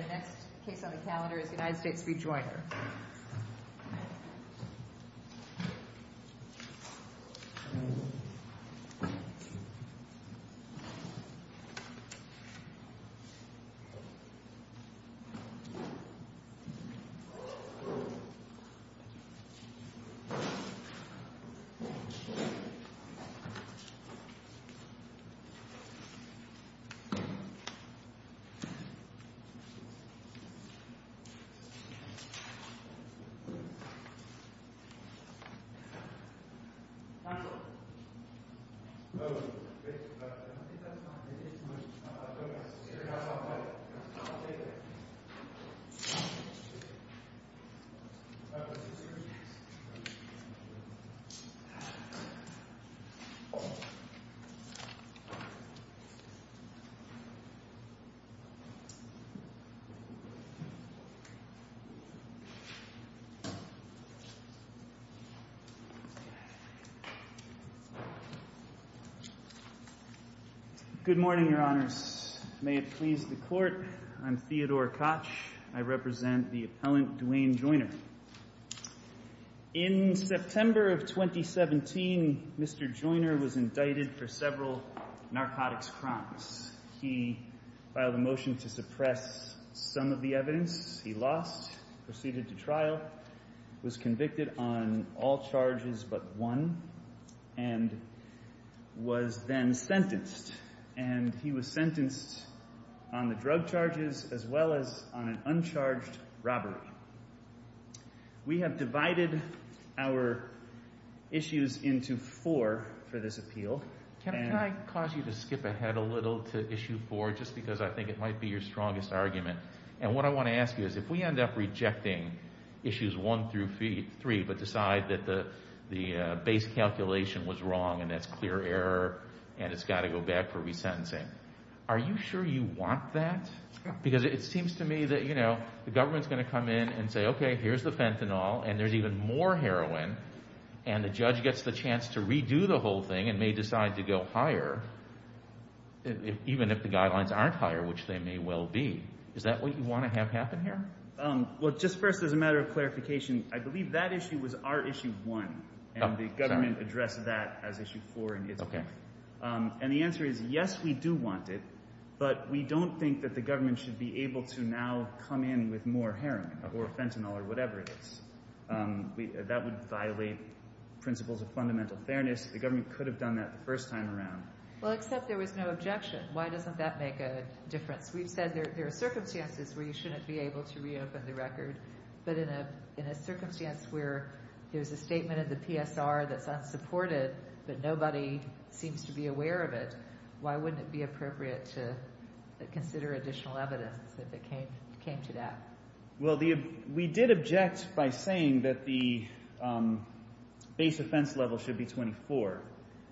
The next case on the calendar is United States v. Joyner. The next case on the calendar is United States v. Joyner. Good morning, Your Honors. May it please the Court, I'm Theodore Koch. I represent the appellant Duane Joyner. In September of 2017, Mr. Joyner was indicted for several narcotics crimes. He filed a motion to suppress some of the evidence he lost, proceeded to trial, was convicted on all charges but one, and was then sentenced. And he was sentenced on the drug charges as well as on an uncharged robbery. We have divided our issues into four for this appeal. Can I cause you to skip ahead a little to issue four just because I think it might be your strongest argument? And what I want to ask you is if we end up rejecting issues one through three but decide that the base calculation was wrong and that's clear error and it's got to go back for resentencing, are you sure you want that? Because it seems to me that, you know, the government's going to come in and say, okay, here's the fentanyl and there's even more heroin and the judge gets the chance to redo the whole thing and may decide to go higher even if the guidelines aren't higher, which they may well be. Is that what you want to have happen here? Well, just first as a matter of clarification, I believe that issue was our issue one and the government addressed that as issue four in its book. And the answer is yes, we do want it, but we don't think that the government should be able to now come in with more heroin or fentanyl or whatever it is. That would violate principles of fundamental fairness. The government could have done that the first time around. Well, except there was no objection. Why doesn't that make a difference? We've said there are circumstances where you shouldn't be able to reopen the record, but in a circumstance where there's a statement of the PSR that's unsupported but nobody seems to be aware of it, why wouldn't it be appropriate to consider additional evidence if it came to that? Well, we did object by saying that the base offense level should be 24.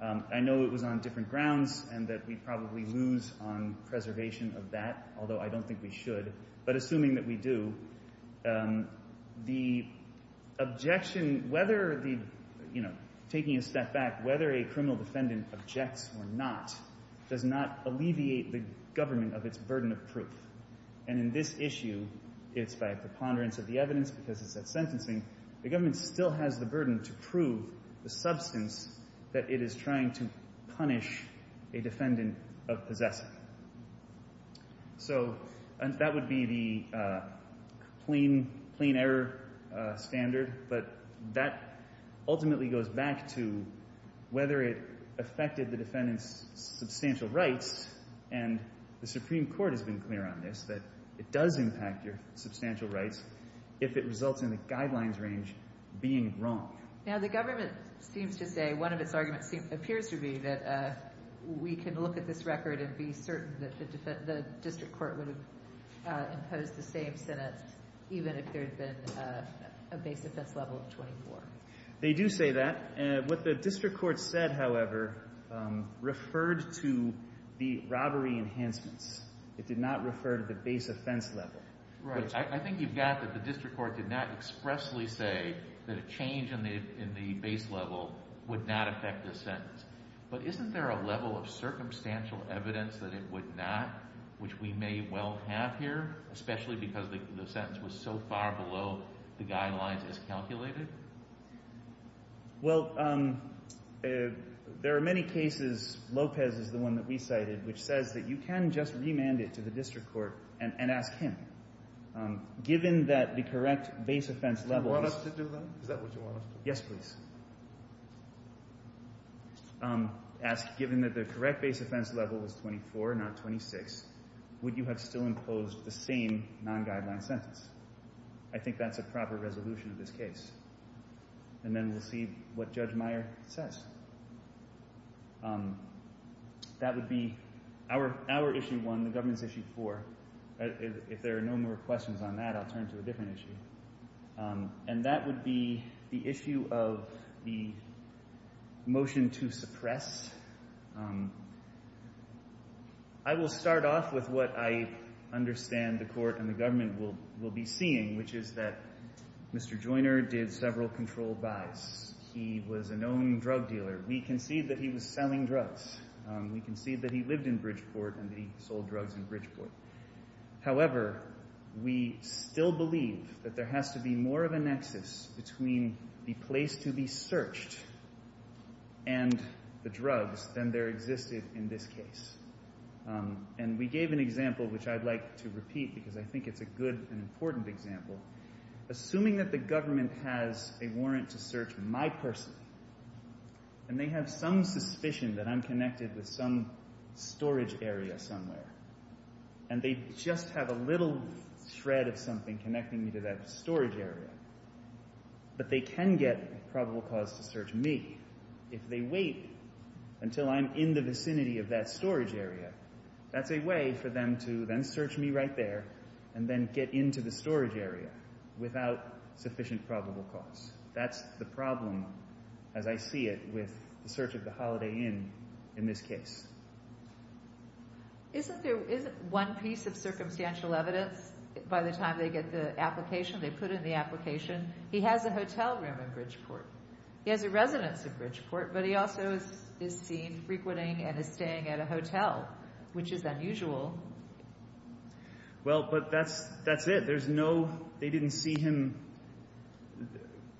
I know it was on different grounds and that we'd probably lose on preservation of that, although I don't think we should. But assuming that we do, the objection, whether the, you know, taking a step back, whether a criminal defendant objects or not does not alleviate the government of its burden of proof. And in this issue, it's by preponderance of the evidence because it's at sentencing, the government still has the burden to prove the substance that it is trying to punish a defendant of possessing. So that would be the plain error standard, but that ultimately goes back to whether it does impact your substantial rights if it results in the guidelines range being wrong. Now, the government seems to say, one of its arguments appears to be that we can look at this record and be certain that the district court would have imposed the same sentence even if there had been a base offense level of 24. They do say that. And what the district court said, however, referred to the robbery enhancements. It did not refer to the base offense level. Right. I think you've got that the district court did not expressly say that a change in the base level would not affect this sentence. But isn't there a level of circumstantial evidence that it would not, which we may well have here, especially because the sentence was so far below the guidelines as calculated? Well, there are many cases, Lopez is the one that we cited, which says that you can just remand it to the district court and ask him, given that the correct base offense level Do you want us to do that? Is that what you want us to do? Yes, please. Ask, given that the correct base offense level was 24, not 26, would you have still imposed the same non-guideline sentence? I think that's a proper resolution of this case. And then we'll see what Judge Meyer says. That would be our issue one, the government's issue four. If there are no more questions on that, I'll turn to a different issue. And that would be the issue of the motion to suppress. I will start off with what I understand the court and the government will be seeing, which is that Mr. Joyner did several controlled buys. He was a known drug dealer. We concede that he was selling drugs. We concede that he lived in Bridgeport and that he sold drugs in Bridgeport. However, we still believe that there has to be more of a nexus between the place to be searched and the drugs than there existed in this case. And we gave an example, which I'd like to repeat because I think it's a good and important example. Assuming that the government has a warrant to search my person, and they have some suspicion that I'm connected with some storage area somewhere, and they just have a little shred of something connecting me to that storage area, but they can get probable cause to search me. If they wait until I'm in the vicinity of that storage area, that's a way for them to then search me right there and then get into the storage area without sufficient probable cause. That's the problem, as I see it, with the search of the Holiday Inn in this case. Isn't there one piece of circumstantial evidence by the time they get the application, they put in the application, he has a hotel room in Bridgeport. He has a residence in Bridgeport, but he also is seen frequenting and is staying at a hotel, which is unusual. Well, but that's it. They didn't see him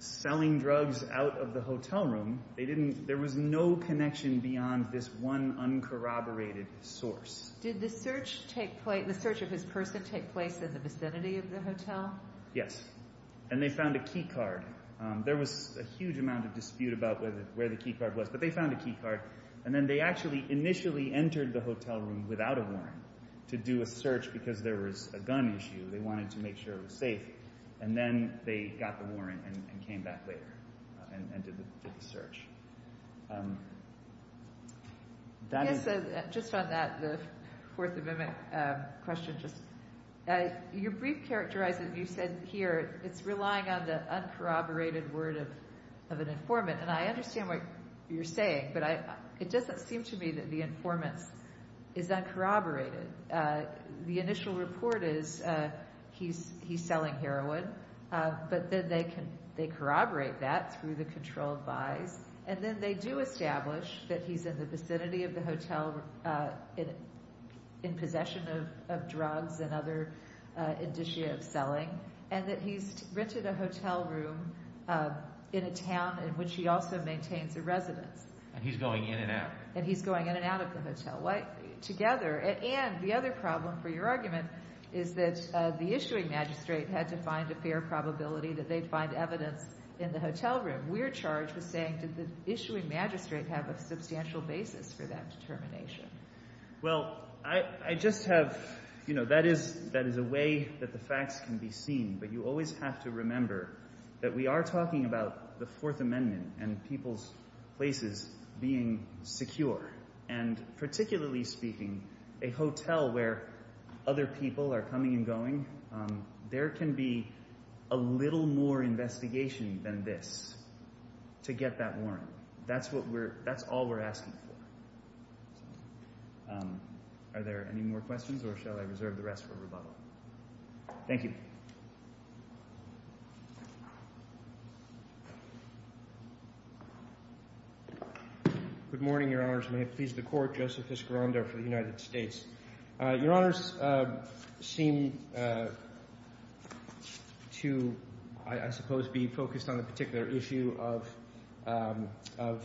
selling drugs out of the hotel room. There was no connection beyond this one uncorroborated source. Did the search of his person take place in the vicinity of the hotel? Yes. And they found a key card. There was a huge amount of dispute about where the key card was, but they found a key card. And then they actually initially entered the hotel room without a warrant to do a search because there was a gun issue. They wanted to make sure it was safe. And then they got the warrant and came back later and did the search. Yes, just on that, the Fourth Amendment question, your brief characterizes, you said here, it's relying on the uncorroborated word of an informant. And I understand what you're saying, but it doesn't seem to me that the informant is uncorroborated. The initial report is he's selling heroin, but then they corroborate that through the controlled buys. And then they do establish that he's in the vicinity of the hotel in possession of drugs and other indicia of selling, and that he's rented a hotel room in a town in which he also maintains a residence. And he's going in and out. And he's going in and out of the hotel. Together. And the other problem for your argument is that the issuing magistrate had to find a fair probability that they'd find evidence in the hotel room. We're charged with saying, did the issuing magistrate have a substantial basis for that determination? Well, I just have, you know, that is a way that the facts can be seen, but you always have to remember that we are talking about the Fourth Amendment and people's places being secure. And particularly speaking, a hotel where other people are coming and going, there can be a little more investigation than this to get that warrant. That's what we're, that's all we're asking for. Are there any more questions or shall I reserve the rest for rebuttal? Thank you. Thank you. Good morning, Your Honors. May it please the Court. Joseph Fiscarondo for the United States. Your Honors seem to, I suppose, be focused on a particular issue of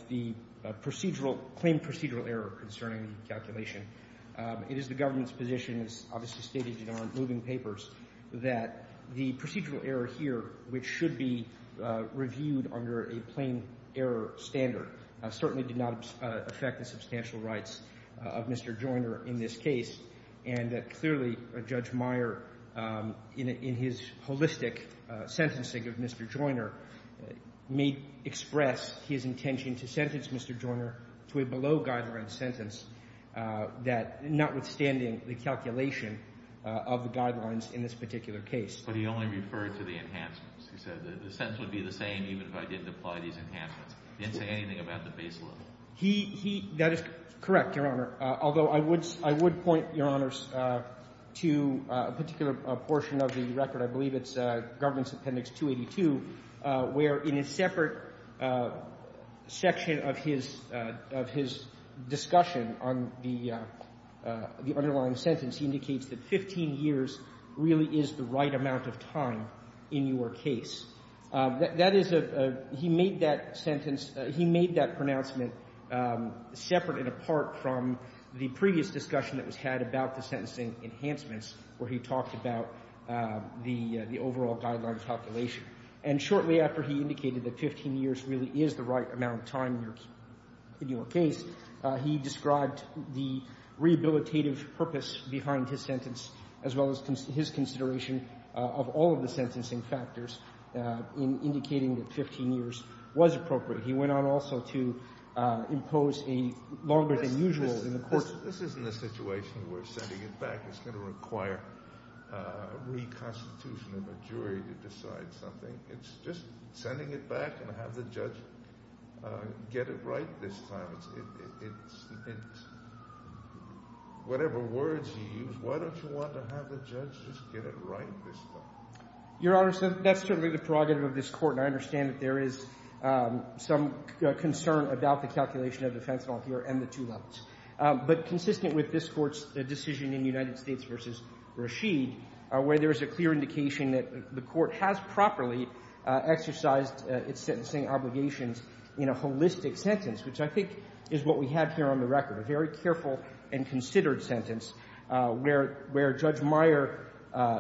the procedural, claimed procedural error concerning the calculation. It is the government's position, as obviously stated in our moving papers, that the procedural error here, which should be reviewed under a plain error standard, certainly did not affect the substantial rights of Mr. Joyner in this case, and that clearly Judge Meyer, in his holistic sentencing of Mr. Joyner, may express his intention to sentence Mr. Joyner to a maximum sentence, notwithstanding the calculation of the guidelines in this particular case. But he only referred to the enhancements. He said the sentence would be the same even if I didn't apply these enhancements. He didn't say anything about the base level. He, he, that is correct, Your Honor, although I would point, Your Honors, to a particular portion of the record. I believe it's Governance Appendix 282, where, in a separate section of his, of his discussion on the underlying sentence, he indicates that 15 years really is the right amount of time in your case. That is a, he made that sentence, he made that pronouncement separate and apart from the previous discussion that was had about the sentencing enhancements, where he talked about the, the overall guidelines calculation. And shortly after he indicated that 15 years really is the right amount of time in your case, he described the rehabilitative purpose behind his sentence, as well as his consideration of all of the sentencing factors in indicating that 15 years was appropriate. He went on also to impose a longer-than-usual in the court's order. I'm not saying that we're sending it back. It's going to require a reconstitution of a jury to decide something. It's just sending it back and have the judge get it right this time. It's, it's, it's, whatever words you use, why don't you want to have the judge just get it right this time? Your Honor, so that's certainly the prerogative of this Court, and I understand that there is some concern about the calculation of the fence ball here and the two levels. on the underlying sentence, he indicates that 15 years really is the right amount of time in your case. I'm not saying that we're sending it back. Your Honor, so that's certainly the concern of this Court, and I understand that the court has a clear indication that the court has properly exercised its sentencing obligations in a holistic sentence, which I think is what we have here on the record, a very careful and considered sentence, where, where Judge Meyer,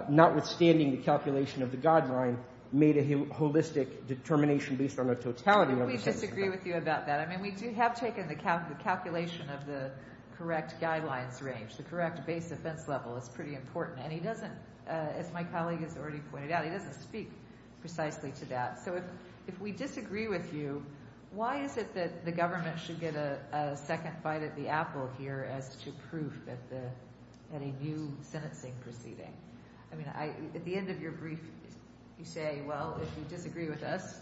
notwithstanding the calculation of the guideline, made a holistic determination based on the totality of the sentence. And we disagree with you about that. I mean, we do have taken the calculation of the correct guidelines range, the correct to have a clear indication that the court has properly exercised its sentencing obligations is pretty important. And he doesn't, as my colleague has already pointed out, he doesn't speak precisely to that. So, if, if we disagree with you, why is it that the government should get a second bite at the Apple here as to proof that the, that a new sentencing proceeding? I mean, I, at the end of your brief, you say, well, if you disagree with us,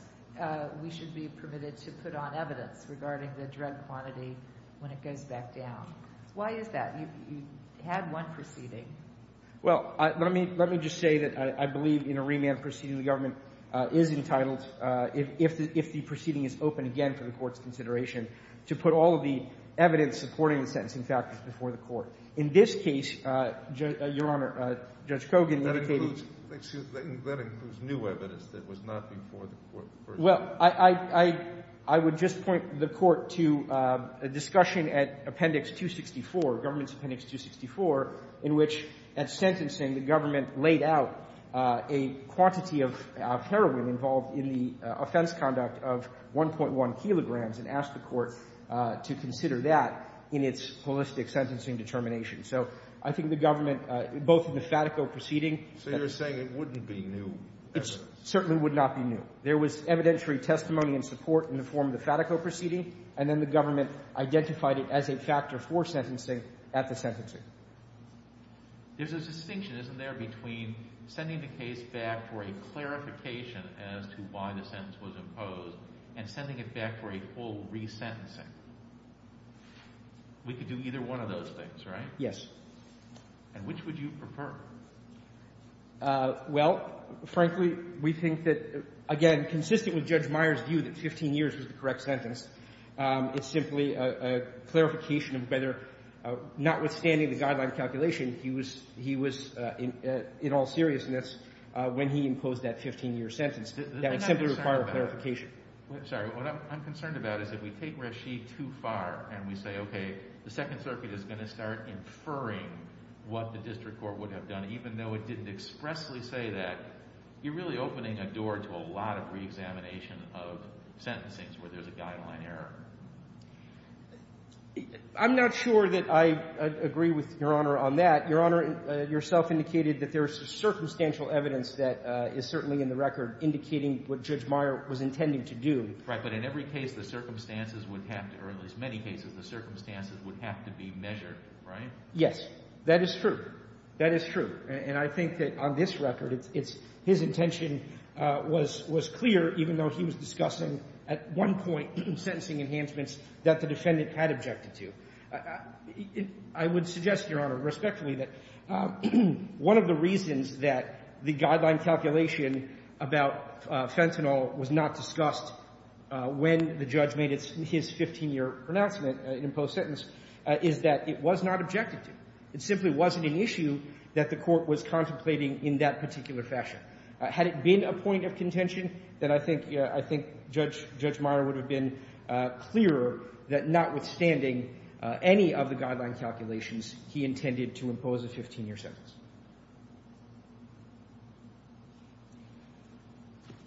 we should be permitted to put on evidence regarding the drug quantity when it goes back down. Why is that? You had one proceeding. Well, let me, let me just say that I, I believe in a remand proceeding, the government is entitled, if, if the, if the proceeding is open again for the Court's consideration, to put all of the evidence supporting the sentencing factors before the Court. In this case, Your Honor, Judge Kogan indicated. That includes, excuse me, that includes new evidence that was not before the Court. Well, I, I, I would just point the Court to a discussion at Appendix 264, Government Appendix 264, in which, at sentencing, the government laid out a quantity of heroin involved in the offense conduct of 1.1 kilograms and asked the Court to consider that in its holistic sentencing determination. So I think the government, both in the Fatico proceeding. So you're saying it wouldn't be new evidence? It certainly would not be new. There was evidentiary testimony and support in the form of the Fatico proceeding, and then the government identified it as a factor for sentencing at the sentencing. There's a distinction, isn't there, between sending the case back for a clarification as to why the sentence was imposed and sending it back for a full resentencing? We could do either one of those things, right? Yes. And which would you prefer? Well, frankly, we think that, again, consistent with Judge Meyer's view that 15 years is the correct sentence, it's simply a clarification of whether, notwithstanding the guideline calculation, he was in all seriousness when he imposed that 15-year sentence. That would simply require a clarification. I'm sorry. What I'm concerned about is if we take Rasheed too far and we say, okay, the Second Circuit is going to start inferring what the district court would have done, even though it didn't expressly say that, you're really opening a door to a lot of reexamination of sentencings where there's a guideline error. I'm not sure that I agree with Your Honor on that. Your Honor, yourself indicated that there's circumstantial evidence that is certainly in the record indicating what Judge Meyer was intending to do. Right. But in every case, the circumstances would have to or at least many cases, the circumstances would have to be measured, right? Yes. That is true. That is true. And I think that on this record, it's his intention was clear, even though he was discussing at one point sentencing enhancements that the defendant had objected to. I would suggest, Your Honor, respectfully, that one of the reasons that the guideline calculation about fentanyl was not discussed when the judge made his 15-year pronouncement, imposed sentence, is that it was not objected to. It simply wasn't an issue that the court was contemplating in that particular fashion. Had it been a point of contention, then I think Judge Meyer would have been clearer that notwithstanding any of the guideline calculations, he intended to impose a 15-year sentence.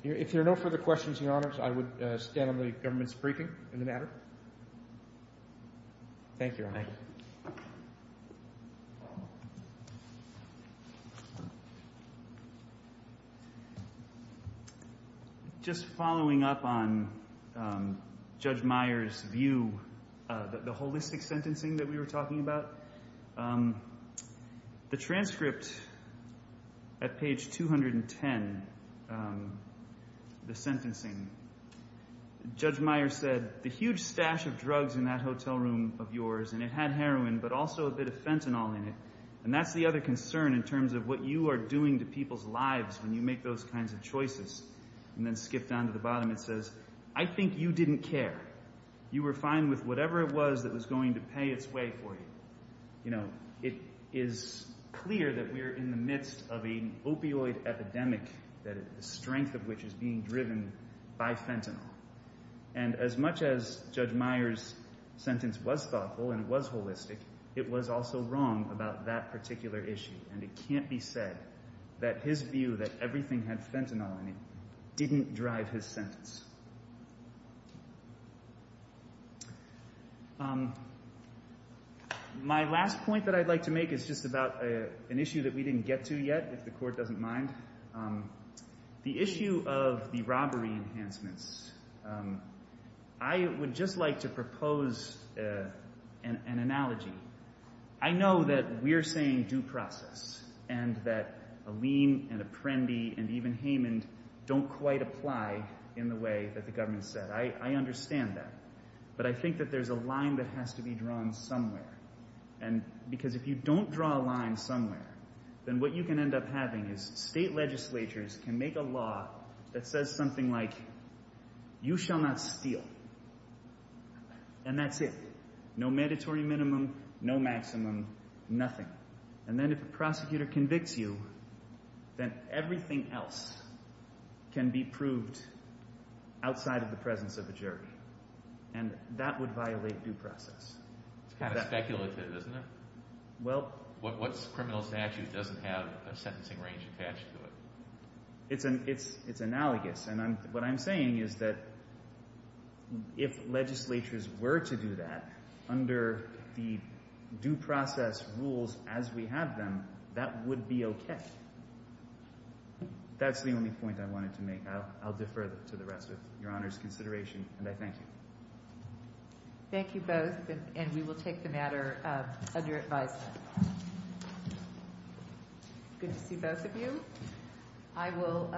If there are no further questions, Your Honors, I would stand on the government's briefing on the matter. Thank you, Your Honor. Goodbye. Just following up on Judge Meyer's view, the holistic sentencing that we were talking about, the transcript at page 210, the sentencing, Judge Meyer said, the huge stash of drugs in that hotel room of yours, and it had heroin, but also a bit of fentanyl in it, and that's the other concern in terms of what you are doing to people's lives when you make those kinds of choices. And then skip down to the bottom. It says, I think you didn't care. You were fine with whatever it was that was going to pay its way for you. It is clear that we are in the midst of an opioid epidemic, the strength of which is being driven by fentanyl. And as much as Judge Meyer's sentence was thoughtful and was holistic, it was also wrong about that particular issue. And it can't be said that his view that everything had fentanyl in it didn't drive his sentence. My last point that I'd like to make is just about an issue that we didn't get to yet, if the Court doesn't mind. The issue of the robbery enhancements. I would just like to propose an analogy. I know that we're saying due process, and that Aleem and Apprendi and even Heyman don't quite apply in the way that the government said. I understand that. But I think that there's a line that has to be drawn somewhere. Because if you don't draw a line somewhere, then what you can end up having is state legislatures can make a law that says something like, you shall not steal. And that's it. No mandatory minimum, no maximum, nothing. And then if a prosecutor convicts you, then everything else can be proved outside of the presence of a jury. And that would violate due process. It's kind of speculative, isn't it? What criminal statute doesn't have a sentencing range attached to it? It's analogous. And what I'm saying is that if legislatures were to do that under the due process rules as we have them, that would be okay. That's the only point I wanted to make. I'll defer to the rest of Your Honor's consideration. And I thank you. Thank you both. And we will take the matter under advice. Good to see both of you. I will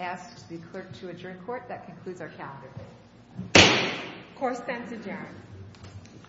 ask the clerk to adjourn court. That concludes our calendar day. Court stands adjourned. Thank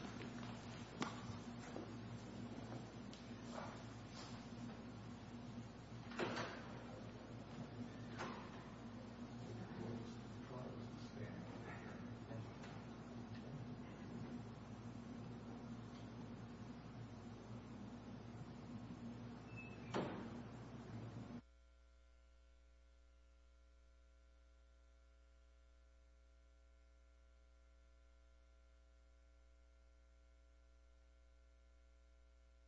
you.